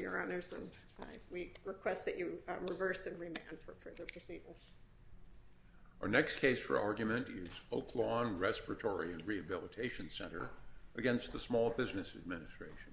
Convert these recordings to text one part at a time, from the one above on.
and we request that you reverse and remand for further proceedings. Our next case for argument is Oak Lawn Respiratory and Rehabilitation Center against the Small Business Administration.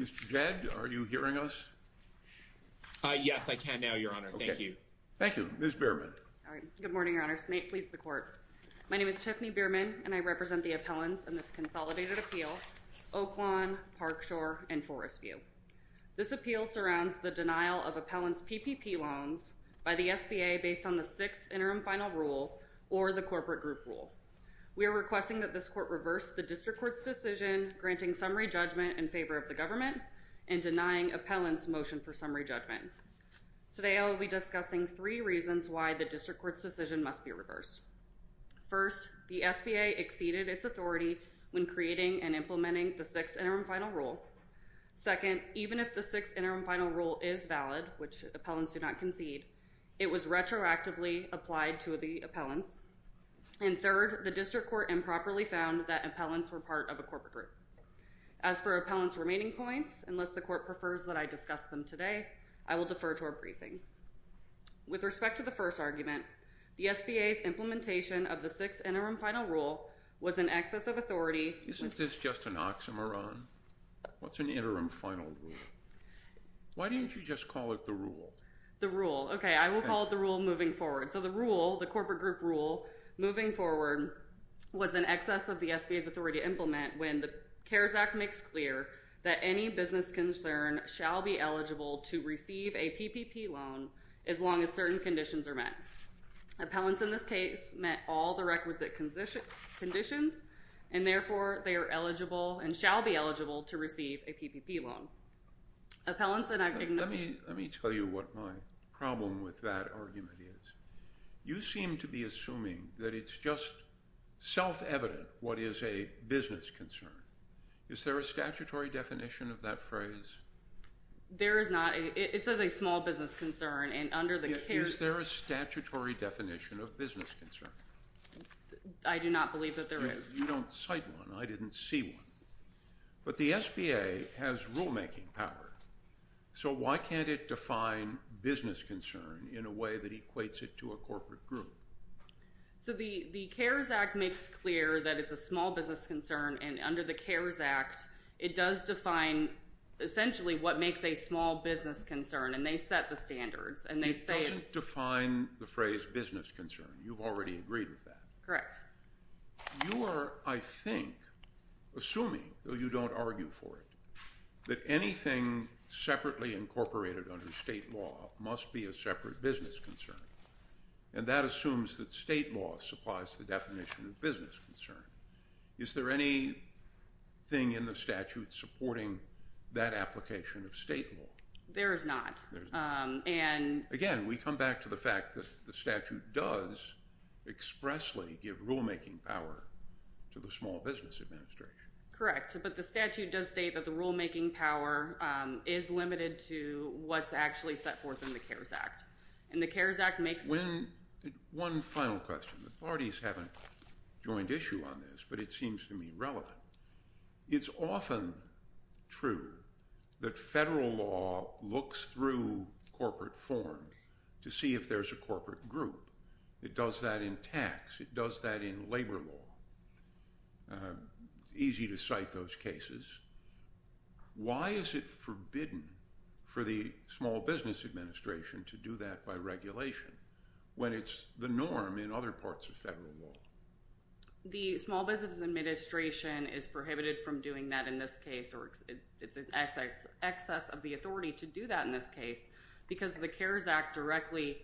Mr. Jed, are you hearing us? Yes, I can now, Your Honor. Thank you. Thank you. Ms. Bierman. Good morning, Your Honors. May it please the Court. My name is Tiffany Bierman and I represent the appellants in this consolidated appeal. Oak Lawn, Park Shore, and Forest View. This appeal surrounds the denial of appellants' PPP loans by the SBA based on the sixth interim final rule or the corporate group rule. We are requesting that this court reverse the district court's decision granting summary judgment in favor of the government and denying appellants' motion for summary judgment. Today I will be discussing three reasons why the district court's decision must be reversed. First, the SBA exceeded its authority when creating and implementing the sixth interim final rule. Second, even if the sixth interim final rule is valid, which appellants do not concede, it was retroactively applied to the appellants. And third, the district court improperly found that appellants were part of a corporate group. As for appellants' remaining points, unless the court prefers that I discuss them today, I will defer to our briefing. With respect to the first argument, the SBA's implementation of the sixth interim final rule was in excess of authority. Isn't this just an oxymoron? What's an interim final rule? Why didn't you just call it the rule? The rule. Okay, I will call it the rule moving forward. So the rule, the corporate group rule moving forward, was in excess of the SBA's authority to implement when the CARES Act makes clear that any business concern shall be eligible to receive a PPP loan as long as certain conditions are met. Appellants, in this case, met all the requisite conditions, and therefore they are eligible and shall be eligible to receive a PPP loan. Appellants and I... Let me tell you what my problem with that argument is. You seem to be assuming that it's just self-evident what is a business concern. Is there a statutory definition of that phrase? There is not. It says a small business concern, and under the CARES Act... Is there a statutory definition of business concern? I do not believe that there is. You don't cite one. I didn't see one. But the SBA has rulemaking power, so why can't it define business concern in a way that equates it to a corporate group? So the CARES Act makes clear that it's a small business concern, and under the CARES Act it does define essentially what makes a small business concern, and they set the standards, and they say it's... It doesn't define the phrase business concern. You've already agreed with that. Correct. You are, I think, assuming, though you don't argue for it, that anything separately incorporated under state law must be a separate business concern, and that assumes that state law supplies the definition of business concern. Is there anything in the statute supporting that application of state law? There is not, and... Again, we come back to the fact that the statute does expressly give rulemaking power to the Small Business Administration. Correct, but the statute does state that the rulemaking power is limited to what's actually set forth in the CARES Act, and the CARES Act makes... One final question. The parties haven't joined issue on this, but it seems to me relevant. It's often true that federal law looks through corporate forms to see if there's a corporate group. It does that in tax. It does that in labor law. It's easy to cite those cases. Why is it forbidden for the Small Business Administration to do that by regulation when it's the norm in other parts of federal law? The Small Business Administration is prohibited from doing that in this case, or it's in excess of the authority to do that in this case, because the CARES Act directly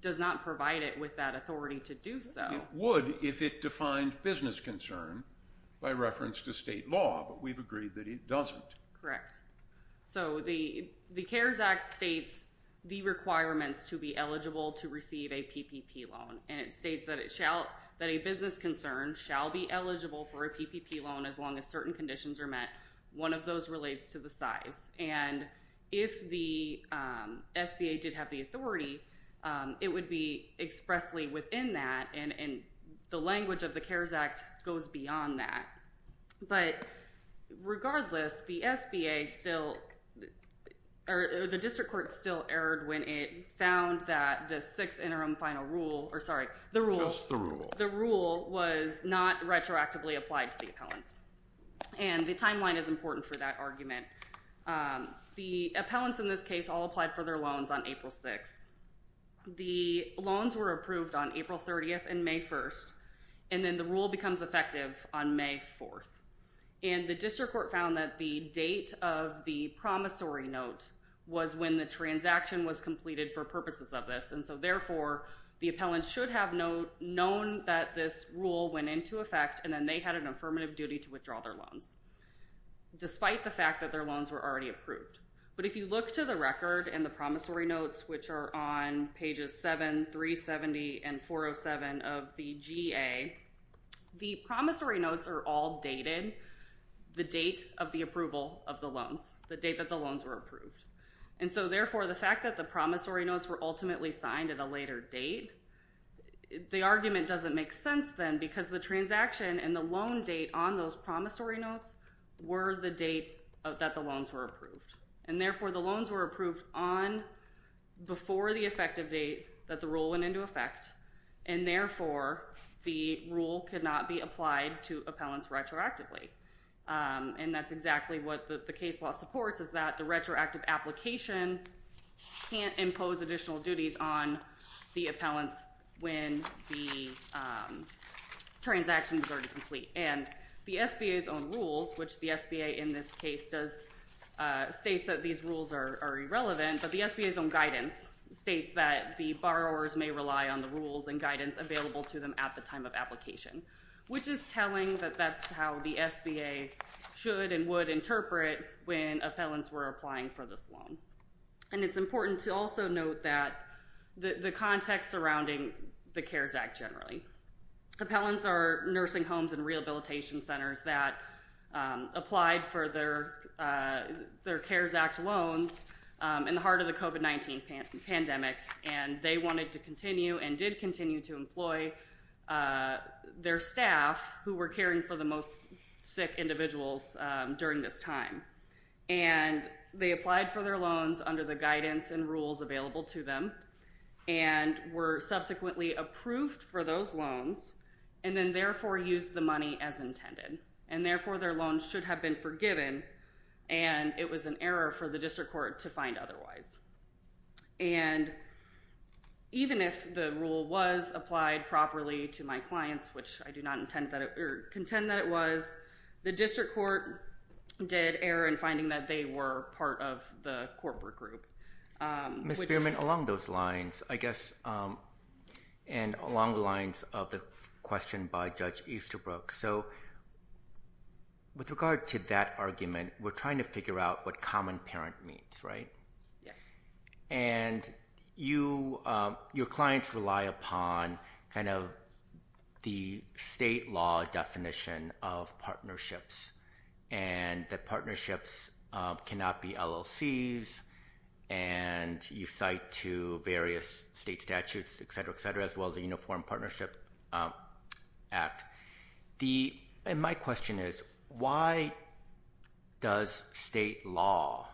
does not provide it with that authority to do so. It would if it defined business concern by reference to state law, but we've agreed that it doesn't. So the CARES Act states the requirements to be eligible to receive a PPP loan, and it states that a business concern shall be eligible for a PPP loan as long as certain conditions are met. One of those relates to the size. And if the SBA did have the authority, it would be expressly within that, and the language of the CARES Act goes beyond that. But regardless, the SBA still, or the district court still erred when it found that the sixth interim final rule, or sorry, the rule was not retroactively applied to the appellants. And the timeline is important for that argument. The appellants in this case all applied for their loans on April 6th. The loans were approved on April 30th and May 1st, and then the rule becomes effective on May 4th. And the district court found that the date of the promissory note was when the transaction was completed for purposes of this, and so therefore the appellant should have known that this rule went into effect, and then they had an affirmative duty to withdraw their loans, despite the fact that their loans were already approved. But if you look to the record and the promissory notes, which are on pages 7, 370, and 407 of the GA, the promissory notes are all dated, the date of the approval of the loans, the date that the loans were approved. And so therefore the fact that the promissory notes were ultimately signed at a later date, the argument doesn't make sense then, because the transaction and the loan date on those promissory notes were the date that the loans were approved. And therefore the loans were approved on before the effective date that the rule went into effect, and therefore the rule could not be applied to appellants retroactively. And that's exactly what the case law supports, is that the retroactive application can't impose additional duties on the appellants when the transaction is already complete. And the SBA's own rules, which the SBA in this case states that these rules are irrelevant, but the SBA's own guidance states that the borrowers may rely on the rules and guidance available to them at the time of application, which is telling that that's how the SBA should and would interpret when appellants were applying for this loan. And it's important to also note that the context surrounding the CARES Act generally. Appellants are nursing homes and rehabilitation centers that applied for their CARES Act loans in the heart of the COVID-19 pandemic, and they wanted to continue and did continue to employ their staff who were caring for the most sick individuals during this time. And they applied for their loans under the guidance and rules available to them and were subsequently approved for those loans and then therefore used the money as intended. And therefore, their loans should have been forgiven. And it was an error for the district court to find otherwise. And even if the rule was applied properly to my clients, which I do not contend that it was, the district court did error in finding that they were part of the corporate group. Ms. Spearman, along those lines, I guess, and along the lines of the question by Judge Easterbrook. So with regard to that argument, we're trying to figure out what common parent means, right? Yes. And your clients rely upon kind of the state law definition of partnerships and that partnerships cannot be LLCs. And you cite to various state statutes, et cetera, et cetera, as well as the Uniform Partnership Act. And my question is, why does state law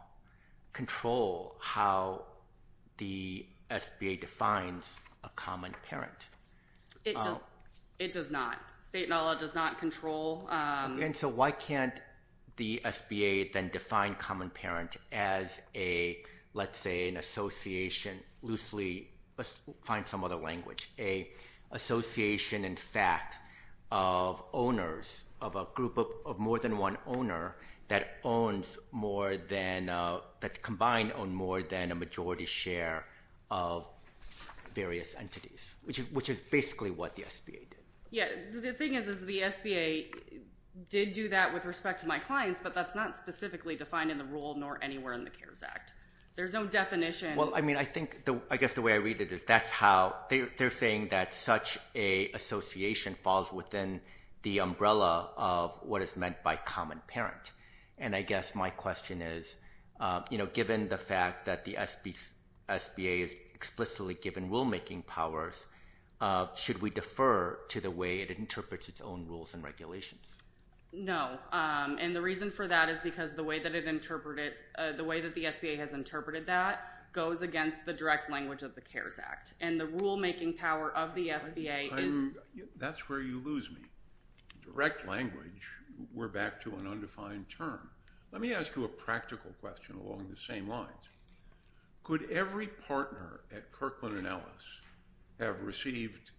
control how the SBA defines a common parent? It does not. State law does not control. And so why can't the SBA then define common parent as a, let's say, an association loosely? Let's find some other language. An association, in fact, of owners of a group of more than one owner that combined own more than a majority share of various entities, which is basically what the SBA did. Yeah. The thing is, is the SBA did do that with respect to my clients, but that's not specifically defined in the rule nor anywhere in the CARES Act. There's no definition. Well, I mean, I think, I guess the way I read it is that's how, they're saying that such an association falls within the umbrella of what is meant by common parent. And I guess my question is, you know, given the fact that the SBA is explicitly given rulemaking powers, should we defer to the way it interprets its own rules and regulations? No. And the reason for that is because the way that it interpreted, the way that the SBA has interpreted that goes against the direct language of the CARES Act. And the rulemaking power of the SBA is- That's where you lose me. Direct language, we're back to an undefined term. Let me ask you a practical question along the same lines. Could every partner at Kirkland & Ellis have received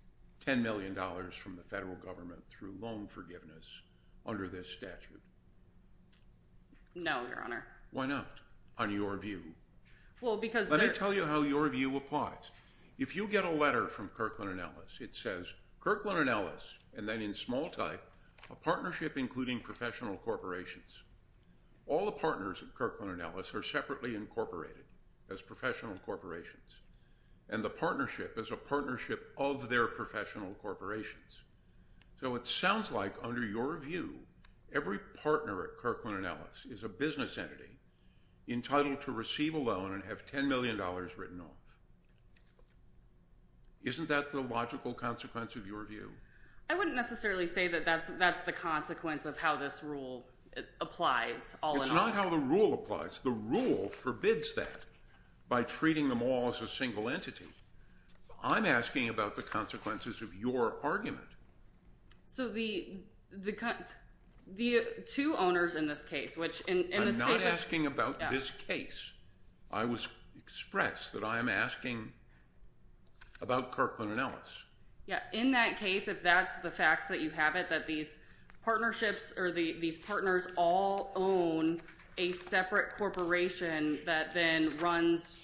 $10 million from the federal government through loan forgiveness under this statute? No, Your Honor. Why not, on your view? Well, because- Let me tell you how your view applies. If you get a letter from Kirkland & Ellis, it says, Kirkland & Ellis, and then in small type, a partnership including professional corporations. All the partners at Kirkland & Ellis are separately incorporated as professional corporations. And the partnership is a partnership of their professional corporations. So it sounds like under your view, every partner at Kirkland & Ellis is a business entity entitled to receive a loan and have $10 million written off. Isn't that the logical consequence of your view? I wouldn't necessarily say that that's the consequence of how this rule applies all in all. It's not how the rule applies. The rule forbids that by treating them all as a single entity. I'm asking about the consequences of your argument. So the two owners in this case, which- I'm not asking about this case. I expressed that I am asking about Kirkland & Ellis. Yeah, in that case, if that's the facts that you have it, that these partnerships or these partners all own a separate corporation that then runs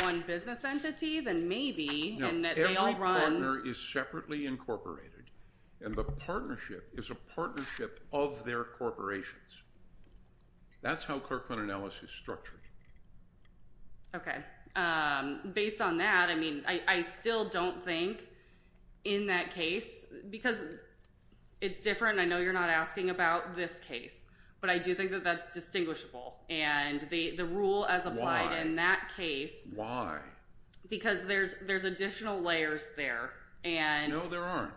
one business entity, then maybe- No, every partner is separately incorporated. And the partnership is a partnership of their corporations. That's how Kirkland & Ellis is structured. Okay. Based on that, I mean, I still don't think in that case, because it's different, and I know you're not asking about this case, but I do think that that's distinguishable. And the rule as applied in that case- Because there's additional layers there. No, there aren't.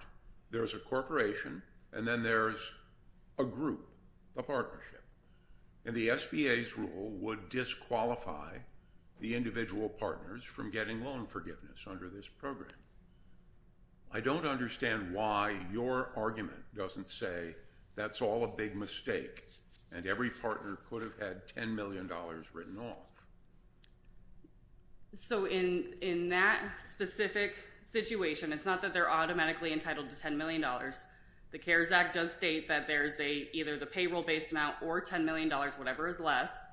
There's a corporation, and then there's a group, a partnership. And the SBA's rule would disqualify the individual partners from getting loan forgiveness under this program. I don't understand why your argument doesn't say that's all a big mistake and every partner could have had $10 million written off. So in that specific situation, it's not that they're automatically entitled to $10 million. The CARES Act does state that there's either the payroll-based amount or $10 million, whatever is less.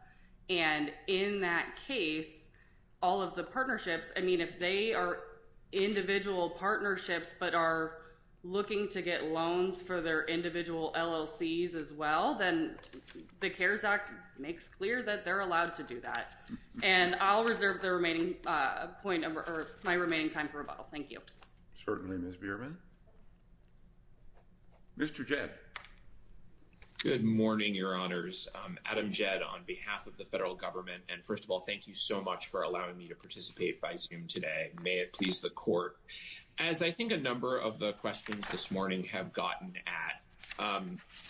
And in that case, all of the partnerships- I mean, if they are individual partnerships but are looking to get loans for their individual LLCs as well, then the CARES Act makes clear that they're allowed to do that. And I'll reserve my remaining time for rebuttal. Thank you. Certainly, Ms. Bierman. Mr. Jed. Good morning, Your Honors. Adam Jed on behalf of the federal government. And first of all, thank you so much for allowing me to participate by Zoom today. May it please the Court. As I think a number of the questions this morning have gotten at,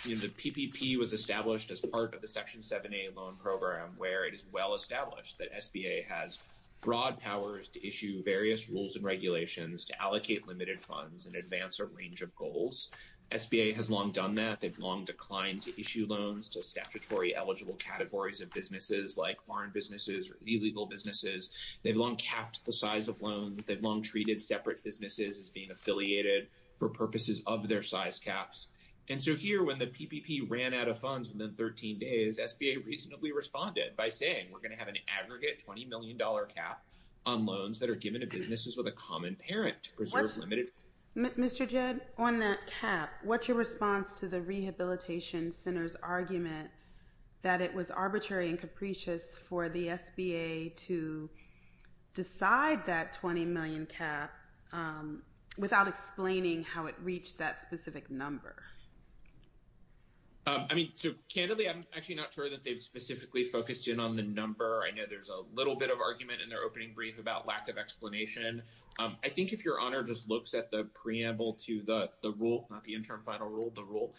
the PPP was established as part of the Section 7a loan program where it is well established that SBA has broad powers to issue various rules and regulations to allocate limited funds and advance a range of goals. SBA has long done that. They've long declined to issue loans to statutory eligible categories of businesses like foreign businesses or illegal businesses. They've long capped the size of loans. They've long treated separate businesses as being affiliated for purposes of their size caps. And so here, when the PPP ran out of funds within 13 days, SBA reasonably responded by saying, we're going to have an aggregate $20 million cap on loans that are given to businesses with a common parent. Mr. Jed, on that cap, what's your response to the Rehabilitation Center's argument that it was arbitrary and capricious for the SBA to decide that $20 million cap without explaining how it reached that specific number? I mean, so candidly, I'm actually not sure that they've specifically focused in on the number. I know there's a little bit of argument in their opening brief about lack of explanation. I think if Your Honor just looks at the preamble to the rule, not the interim final rule, the rule,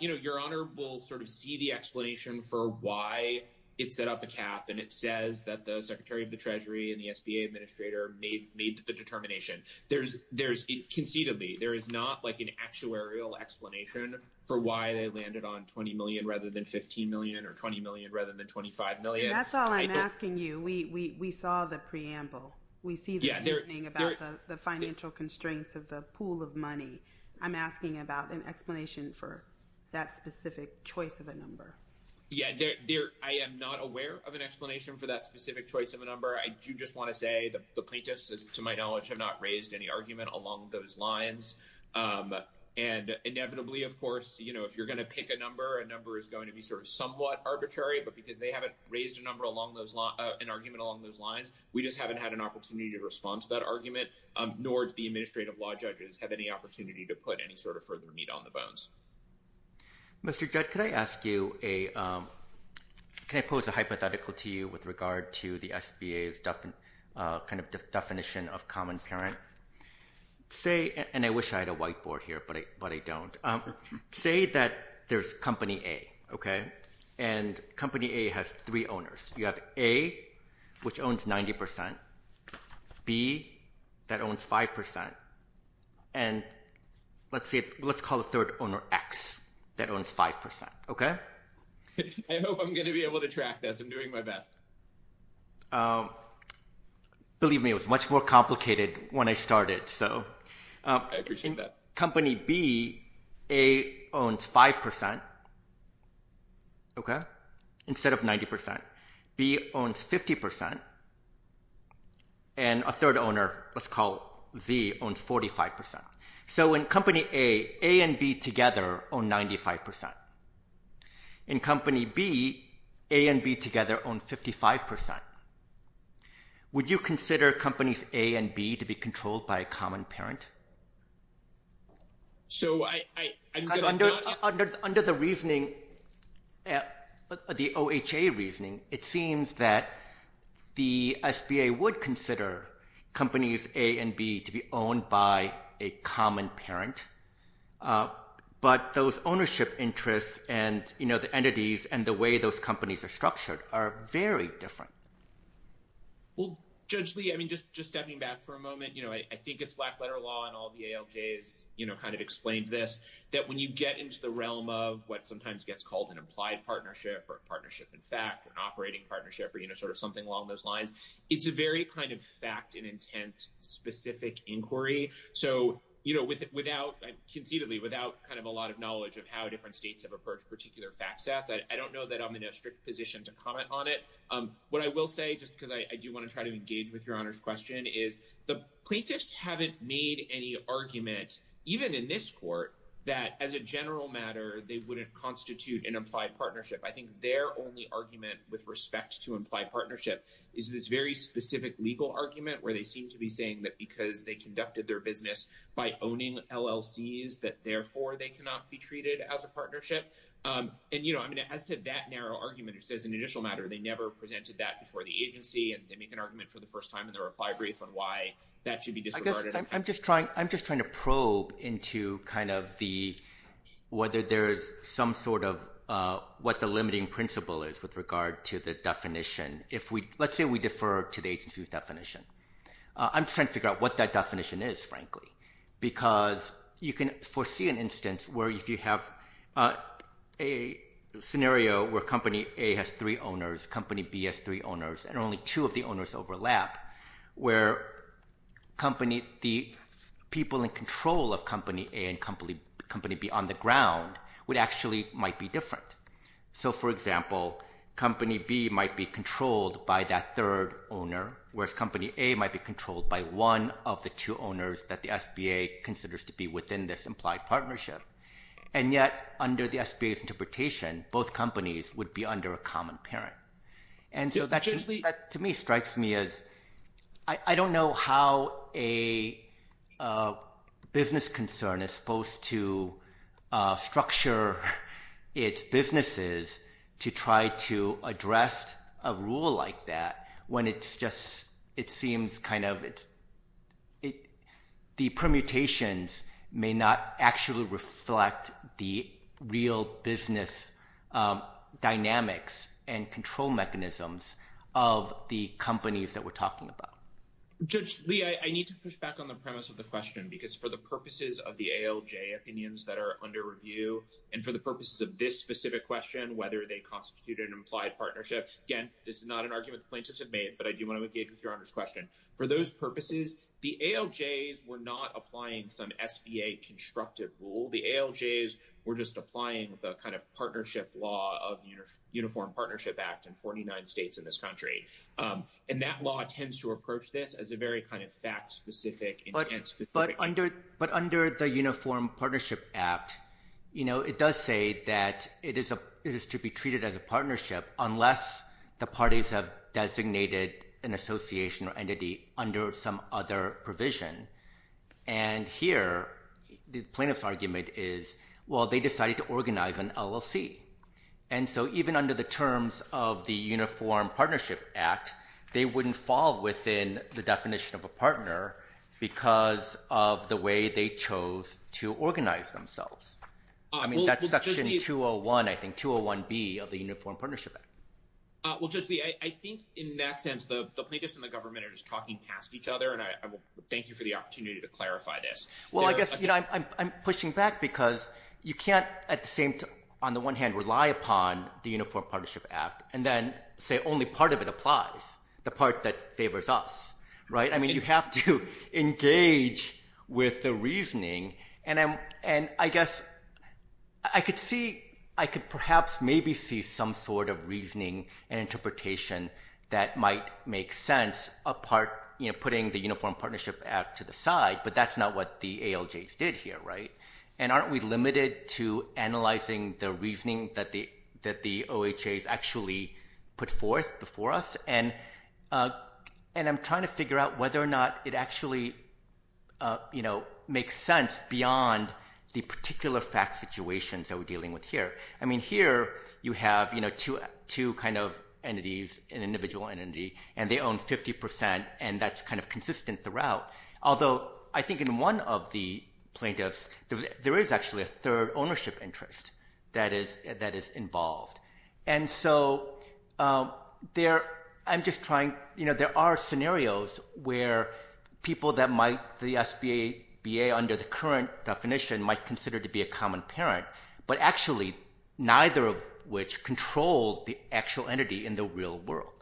Your Honor will sort of see the explanation for why it set up a cap, and it says that the Secretary of the Treasury and the SBA Administrator made the determination. Conceitedly, there is not like an actuarial explanation for why they landed on $20 million rather than $15 million or $20 million rather than $25 million. And that's all I'm asking you. We saw the preamble. We see the reasoning about the financial constraints of the pool of money. I'm asking about an explanation for that specific choice of a number. Yeah, I am not aware of an explanation for that specific choice of a number. I do just want to say the plaintiffs, to my knowledge, have not raised any argument along those lines. And inevitably, of course, if you're going to pick a number, a number is going to be sort of somewhat arbitrary, but because they haven't raised an argument along those lines, we just haven't had an opportunity to respond to that argument, nor do the administrative law judges have any opportunity to put any sort of further meat on the bones. Mr. Judd, can I pose a hypothetical to you with regard to the SBA's kind of definition of common parent? Say, and I wish I had a whiteboard here, but I don't. Say that there's company A, okay? And company A has three owners. You have A, which owns 90%, B, that owns 5%, and let's call the third owner X, that owns 5%, okay? I hope I'm going to be able to track this. I'm doing my best. Believe me, it was much more complicated when I started, so... I appreciate that. In company B, A owns 5%, okay, instead of 90%. B owns 50%, and a third owner, let's call Z, owns 45%. So in company A, A and B together own 95%. In company B, A and B together own 55%. Would you consider companies A and B to be controlled by a common parent? So I... Under the reasoning, the OHA reasoning, it seems that the SBA would consider companies A and B to be owned by a common parent, but those ownership interests and the entities and the way those companies are structured are very different. Well, Judge Lee, I mean, just stepping back for a moment, I think it's black letter law and all the ALJs kind of explained this, that when you get into the realm of what sometimes gets called an implied partnership or a partnership in fact or an operating partnership or sort of something along those lines, it's a very kind of fact and intent specific inquiry. So, you know, without... Conceitedly, without kind of a lot of knowledge of how different states have approached particular fact sets, I don't know that I'm in a strict position to comment on it. What I will say, just because I do want to try to engage with Your Honour's question, is the plaintiffs haven't made any argument, even in this court, that as a general matter, they wouldn't constitute an implied partnership. I think their only argument with respect to implied partnership is this very specific legal argument where they seem to be saying that because they conducted their business by owning LLCs, that therefore they cannot be treated as a partnership. And, you know, I mean, as to that narrow argument, as an initial matter, they never presented that before the agency and they make an argument for the first time in their reply brief on why that should be disregarded. I'm just trying to probe into kind of the... ..whether there is some sort of... ..what the limiting principle is with regard to the definition. Let's say we defer to the agency's definition. I'm just trying to figure out what that definition is, frankly, because you can foresee an instance where if you have a scenario where Company A has three owners, Company B has three owners, and only two of the owners overlap, where the people in control of Company A and Company B on the ground actually might be different. So, for example, Company B might be controlled by that third owner, whereas Company A might be controlled by one of the two owners that the SBA considers to be within this implied partnership. And yet, under the SBA's interpretation, both companies would be under a common parent. And so that, to me, strikes me as... I don't know how a business concern is supposed to structure its businesses to try to address a rule like that when it's just...it seems kind of... ..the permutations may not actually reflect the real business dynamics and control mechanisms of the companies that we're talking about. Judge Lee, I need to push back on the premise of the question because for the purposes of the ALJ opinions that are under review and for the purposes of this specific question, whether they constitute an implied partnership, again, this is not an argument the plaintiffs have made, but I do want to engage with Your Honour's question. For those purposes, the ALJs were not applying some SBA constructive rule. The ALJs were just applying the kind of partnership law of Uniform Partnership Act in 49 states in this country. And that law tends to approach this as a very kind of fact-specific... But under the Uniform Partnership Act, you know, it does say that it is to be treated as a partnership unless the parties have designated an association or entity under some other provision. And here, the plaintiff's argument is, well, they decided to organise an LLC. And so even under the terms of the Uniform Partnership Act, they wouldn't fall within the definition of a partner because of the way they chose to organise themselves. I mean, that's Section 201, I think, Section 201B of the Uniform Partnership Act. Well, Judge Lee, I think, in that sense, the plaintiffs and the government are just talking past each other, and I will thank you for the opportunity to clarify this. Well, I guess, you know, I'm pushing back because you can't, on the one hand, rely upon the Uniform Partnership Act and then say only part of it applies, the part that favours us, right? I mean, you have to engage with the reasoning. And I guess I could perhaps maybe see some sort of reasoning and interpretation that might make sense putting the Uniform Partnership Act to the side, but that's not what the ALJs did here, right? And aren't we limited to analysing the reasoning that the OHAs actually put forth before us? And I'm trying to figure out whether or not it actually, you know, extends beyond the particular fact situations that we're dealing with here. I mean, here you have, you know, two kind of entities, an individual entity, and they own 50%, and that's kind of consistent throughout. Although I think in one of the plaintiffs, there is actually a third ownership interest that is involved. And so I'm just trying... You know, there are scenarios where people that might... SBA under the current definition might consider to be a common parent, but actually neither of which control the actual entity in the real world.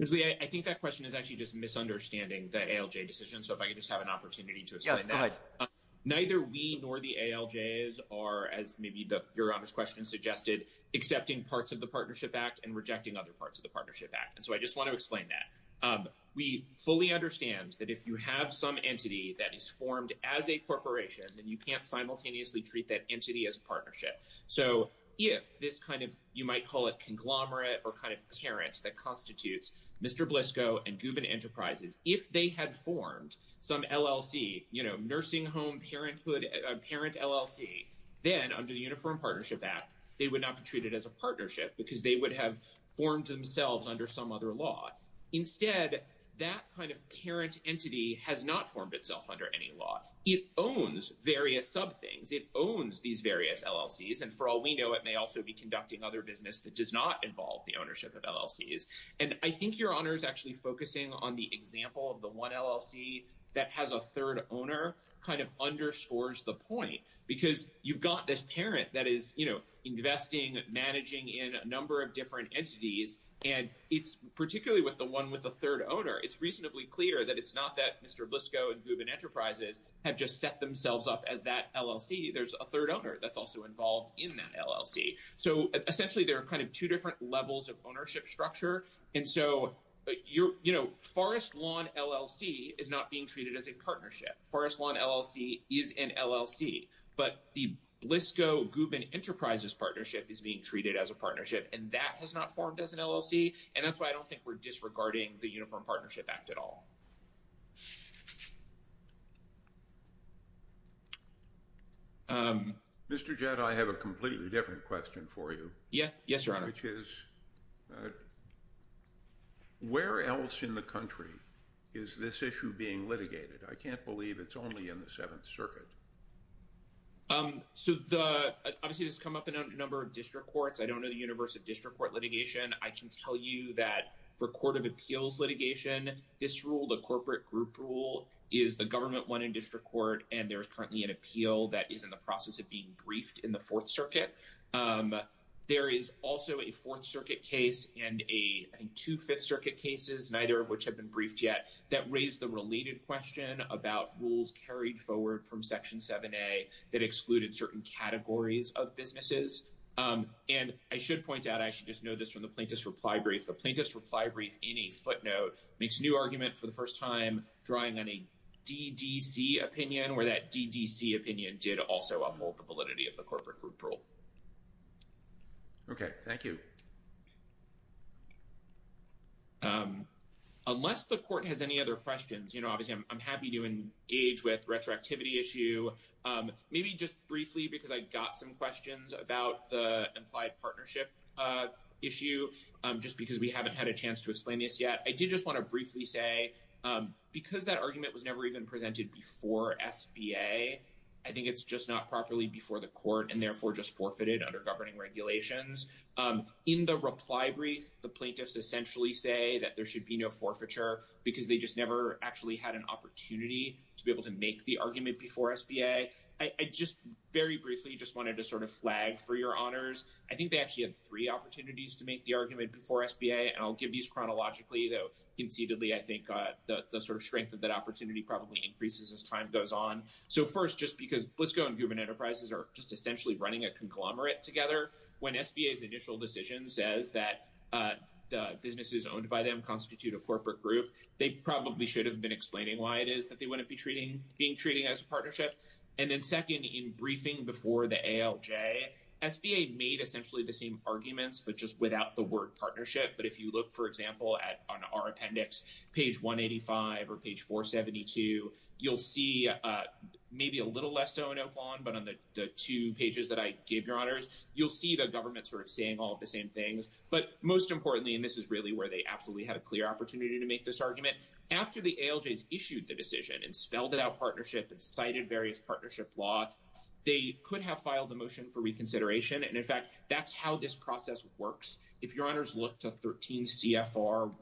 I think that question is actually just misunderstanding the ALJ decision. So if I could just have an opportunity to explain that. Neither we nor the ALJs are, as maybe your obvious question suggested, accepting parts of the Partnership Act and rejecting other parts of the Partnership Act. And so I just want to explain that. We fully understand that if you have some entity that is formed as a corporation, then you can't simultaneously treat that entity as a partnership. So if this kind of, you might call it conglomerate or kind of parent that constitutes Mr. Bliscoe and Gubin Enterprises, if they had formed some LLC, you know, nursing home parent LLC, then under the Uniform Partnership Act, they would not be treated as a partnership because they would have formed themselves under some other law. Instead, that kind of parent entity has not formed itself under any law. It owns various sub things. It owns these various LLCs. And for all we know, it may also be conducting other business that does not involve the ownership of LLCs. And I think your honors actually focusing on the example of the one LLC that has a third owner kind of underscores the point because you've got this parent that is, you know, investing, managing in a number of different entities. And it's particularly with the one with the third owner, it's reasonably clear that it's not that Mr. Bliscoe and Gubin Enterprises have just set themselves up as that LLC. There's a third owner that's also involved in that LLC. So essentially, there are kind of two different levels of ownership structure. And so, you know, Forest Lawn LLC is not being treated as a partnership. Forest Lawn LLC is an LLC. But the Bliscoe-Gubin Enterprises partnership is being treated as a partnership. And that has not formed as an LLC. And that's why I don't think we're disregarding the Uniform Partnership Act at all. Mr. Jett, I have a completely different question for you. Yes, your honor. Which is where else in the country is this issue being litigated? I can't believe it's only in the Seventh Circuit. So obviously, this has come up in a number of district courts. I don't know the universe of district court litigation. I can tell you that for court of appeals litigation, this rule, the corporate group rule, is the government one in district court. And there is currently an appeal that is in the process of being briefed in the Fourth Circuit. There is also a Fourth Circuit case and a, I think, two Fifth Circuit cases, neither of which have been briefed yet, that raised the related question about rules carried forward from Section 7A that excluded certain categories of businesses. And I should point out, I should just note this from the plaintiff's reply brief, the plaintiff's reply brief in a footnote makes new argument for the first time drawing on a DDC opinion, where that DDC opinion did also uphold the validity of the corporate group rule. OK, thank you. Unless the court has any other questions, you know, obviously, I'm happy to engage with retroactivity issue. Maybe just briefly, because I got some questions about the implied partnership issue, just because we haven't had a chance to explain this yet. I did just want to briefly say, because that argument was never even presented before SBA, I think it's just not properly before the court and therefore just forfeited under governing regulations. In the reply brief, the plaintiffs essentially say that there should be no forfeiture because they just never actually had an opportunity to be able to make the argument before SBA. I just very briefly just wanted to sort of flag for your honors. I think they actually had three opportunities to make the argument before SBA. And I'll give these chronologically, though conceitedly, I think the sort of strength of that opportunity probably increases as time goes on. So first, just because Blisco and Gubman Enterprises are just essentially running a conglomerate together. When SBA's initial decision says that the businesses owned by them constitute a corporate group, they probably should have been explaining why it is that they wouldn't be being treated as a partnership. And then second, in briefing before the ALJ, SBA made essentially the same arguments, but just without the word partnership. But if you look, for example, at our appendix, page 185 or page 472, you'll see maybe a little less so in Oak Lawn, but on the two pages that I gave your honors, you'll see the government sort of saying all of the same things. But most importantly, and this is really where they absolutely had a clear opportunity to make this argument, after the ALJs issued the decision and spelled it out partnership and cited various partnership law, they could have filed the motion for reconsideration. And in fact, that's how this process works. If your honors look to 13 CFR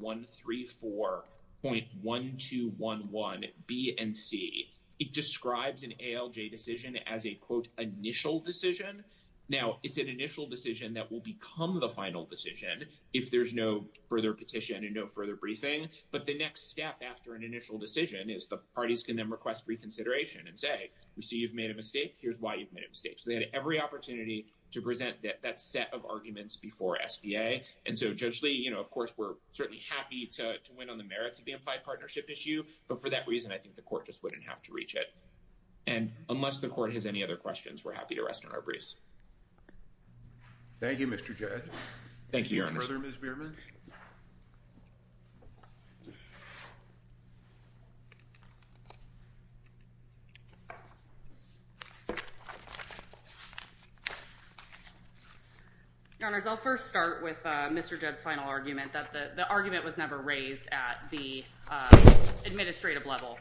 134.1211 B and C, it describes an ALJ decision as a, quote, initial decision. Now, it's an initial decision that will become the final decision if there's no further petition and no further briefing. But the next step after an initial decision is the parties can then request reconsideration and say, we see you've made a mistake. Here's why you've made a mistake. So they had every opportunity to present that set of arguments before SBA. And so, Judge Lee, you know, of course, we're certainly happy to win on the merits of the implied partnership issue. But for that reason, I think the court just wouldn't have to reach it. And unless the court has any other questions, we're happy to rest on our briefs. Thank you, Mr. Judge. Thank you, Your Honor. Further, Ms. Beerman. I'll first start with Mr. Judd's final argument that the argument was never raised at the administrative level.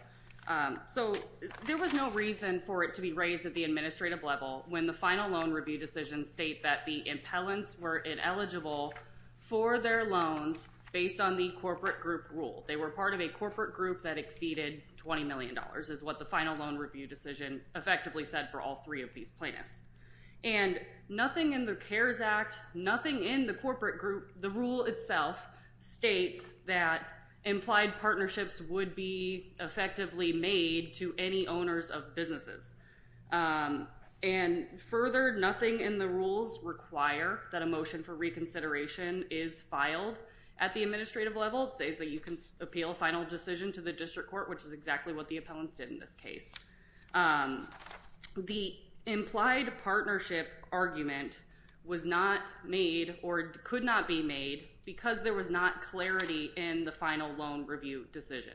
So there was no reason for it to be raised at the administrative level when the final loan review decision state that the impellents were ineligible for their loans based on the corporate group rule. They were part of a corporate group that exceeded $20 million is what the final loan review decision effectively said for all three of these plaintiffs. And nothing in the CARES Act, nothing in the corporate group, the rule itself, states that implied partnerships would be effectively made to any owners of businesses. And further, nothing in the rules require that a motion for reconsideration is filed at the administrative level. It says that you can appeal a final decision to the district court, which is exactly what the appellants did in this case. The implied partnership argument was not made or could not be made because there was not clarity in the final loan review decision.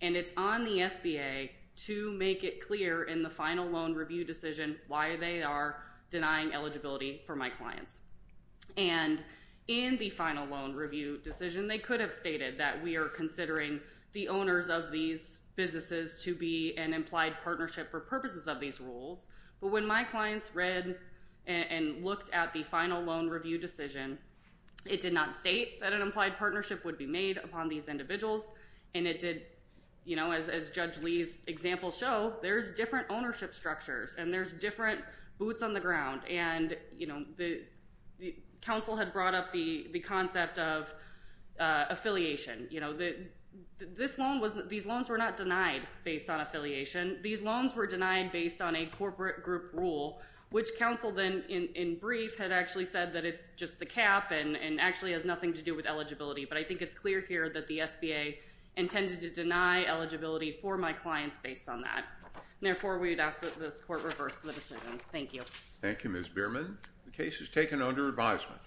And it's on the SBA to make it clear in the final loan review decision why they are denying eligibility for my clients. And in the final loan review decision, they could have stated that we are considering the owners of these businesses to be an implied partnership for purposes of these rules, but when my clients read and looked at the final loan review decision, it did not state that an implied partnership would be made upon these individuals. And it did, you know, as Judge Lee's examples show, there's different ownership structures and there's different boots on the ground. And, you know, the counsel had brought up the concept of affiliation. You know, these loans were not denied based on affiliation. These loans were denied based on a corporate group rule, which counsel then in brief had actually said that it's just the cap and actually has nothing to do with eligibility. But I think it's clear here that the SBA intended to deny eligibility for my clients based on that. Therefore, we would ask that this court reverse the decision. Thank you. Thank you, Ms. Bierman. The case is taken under advisement.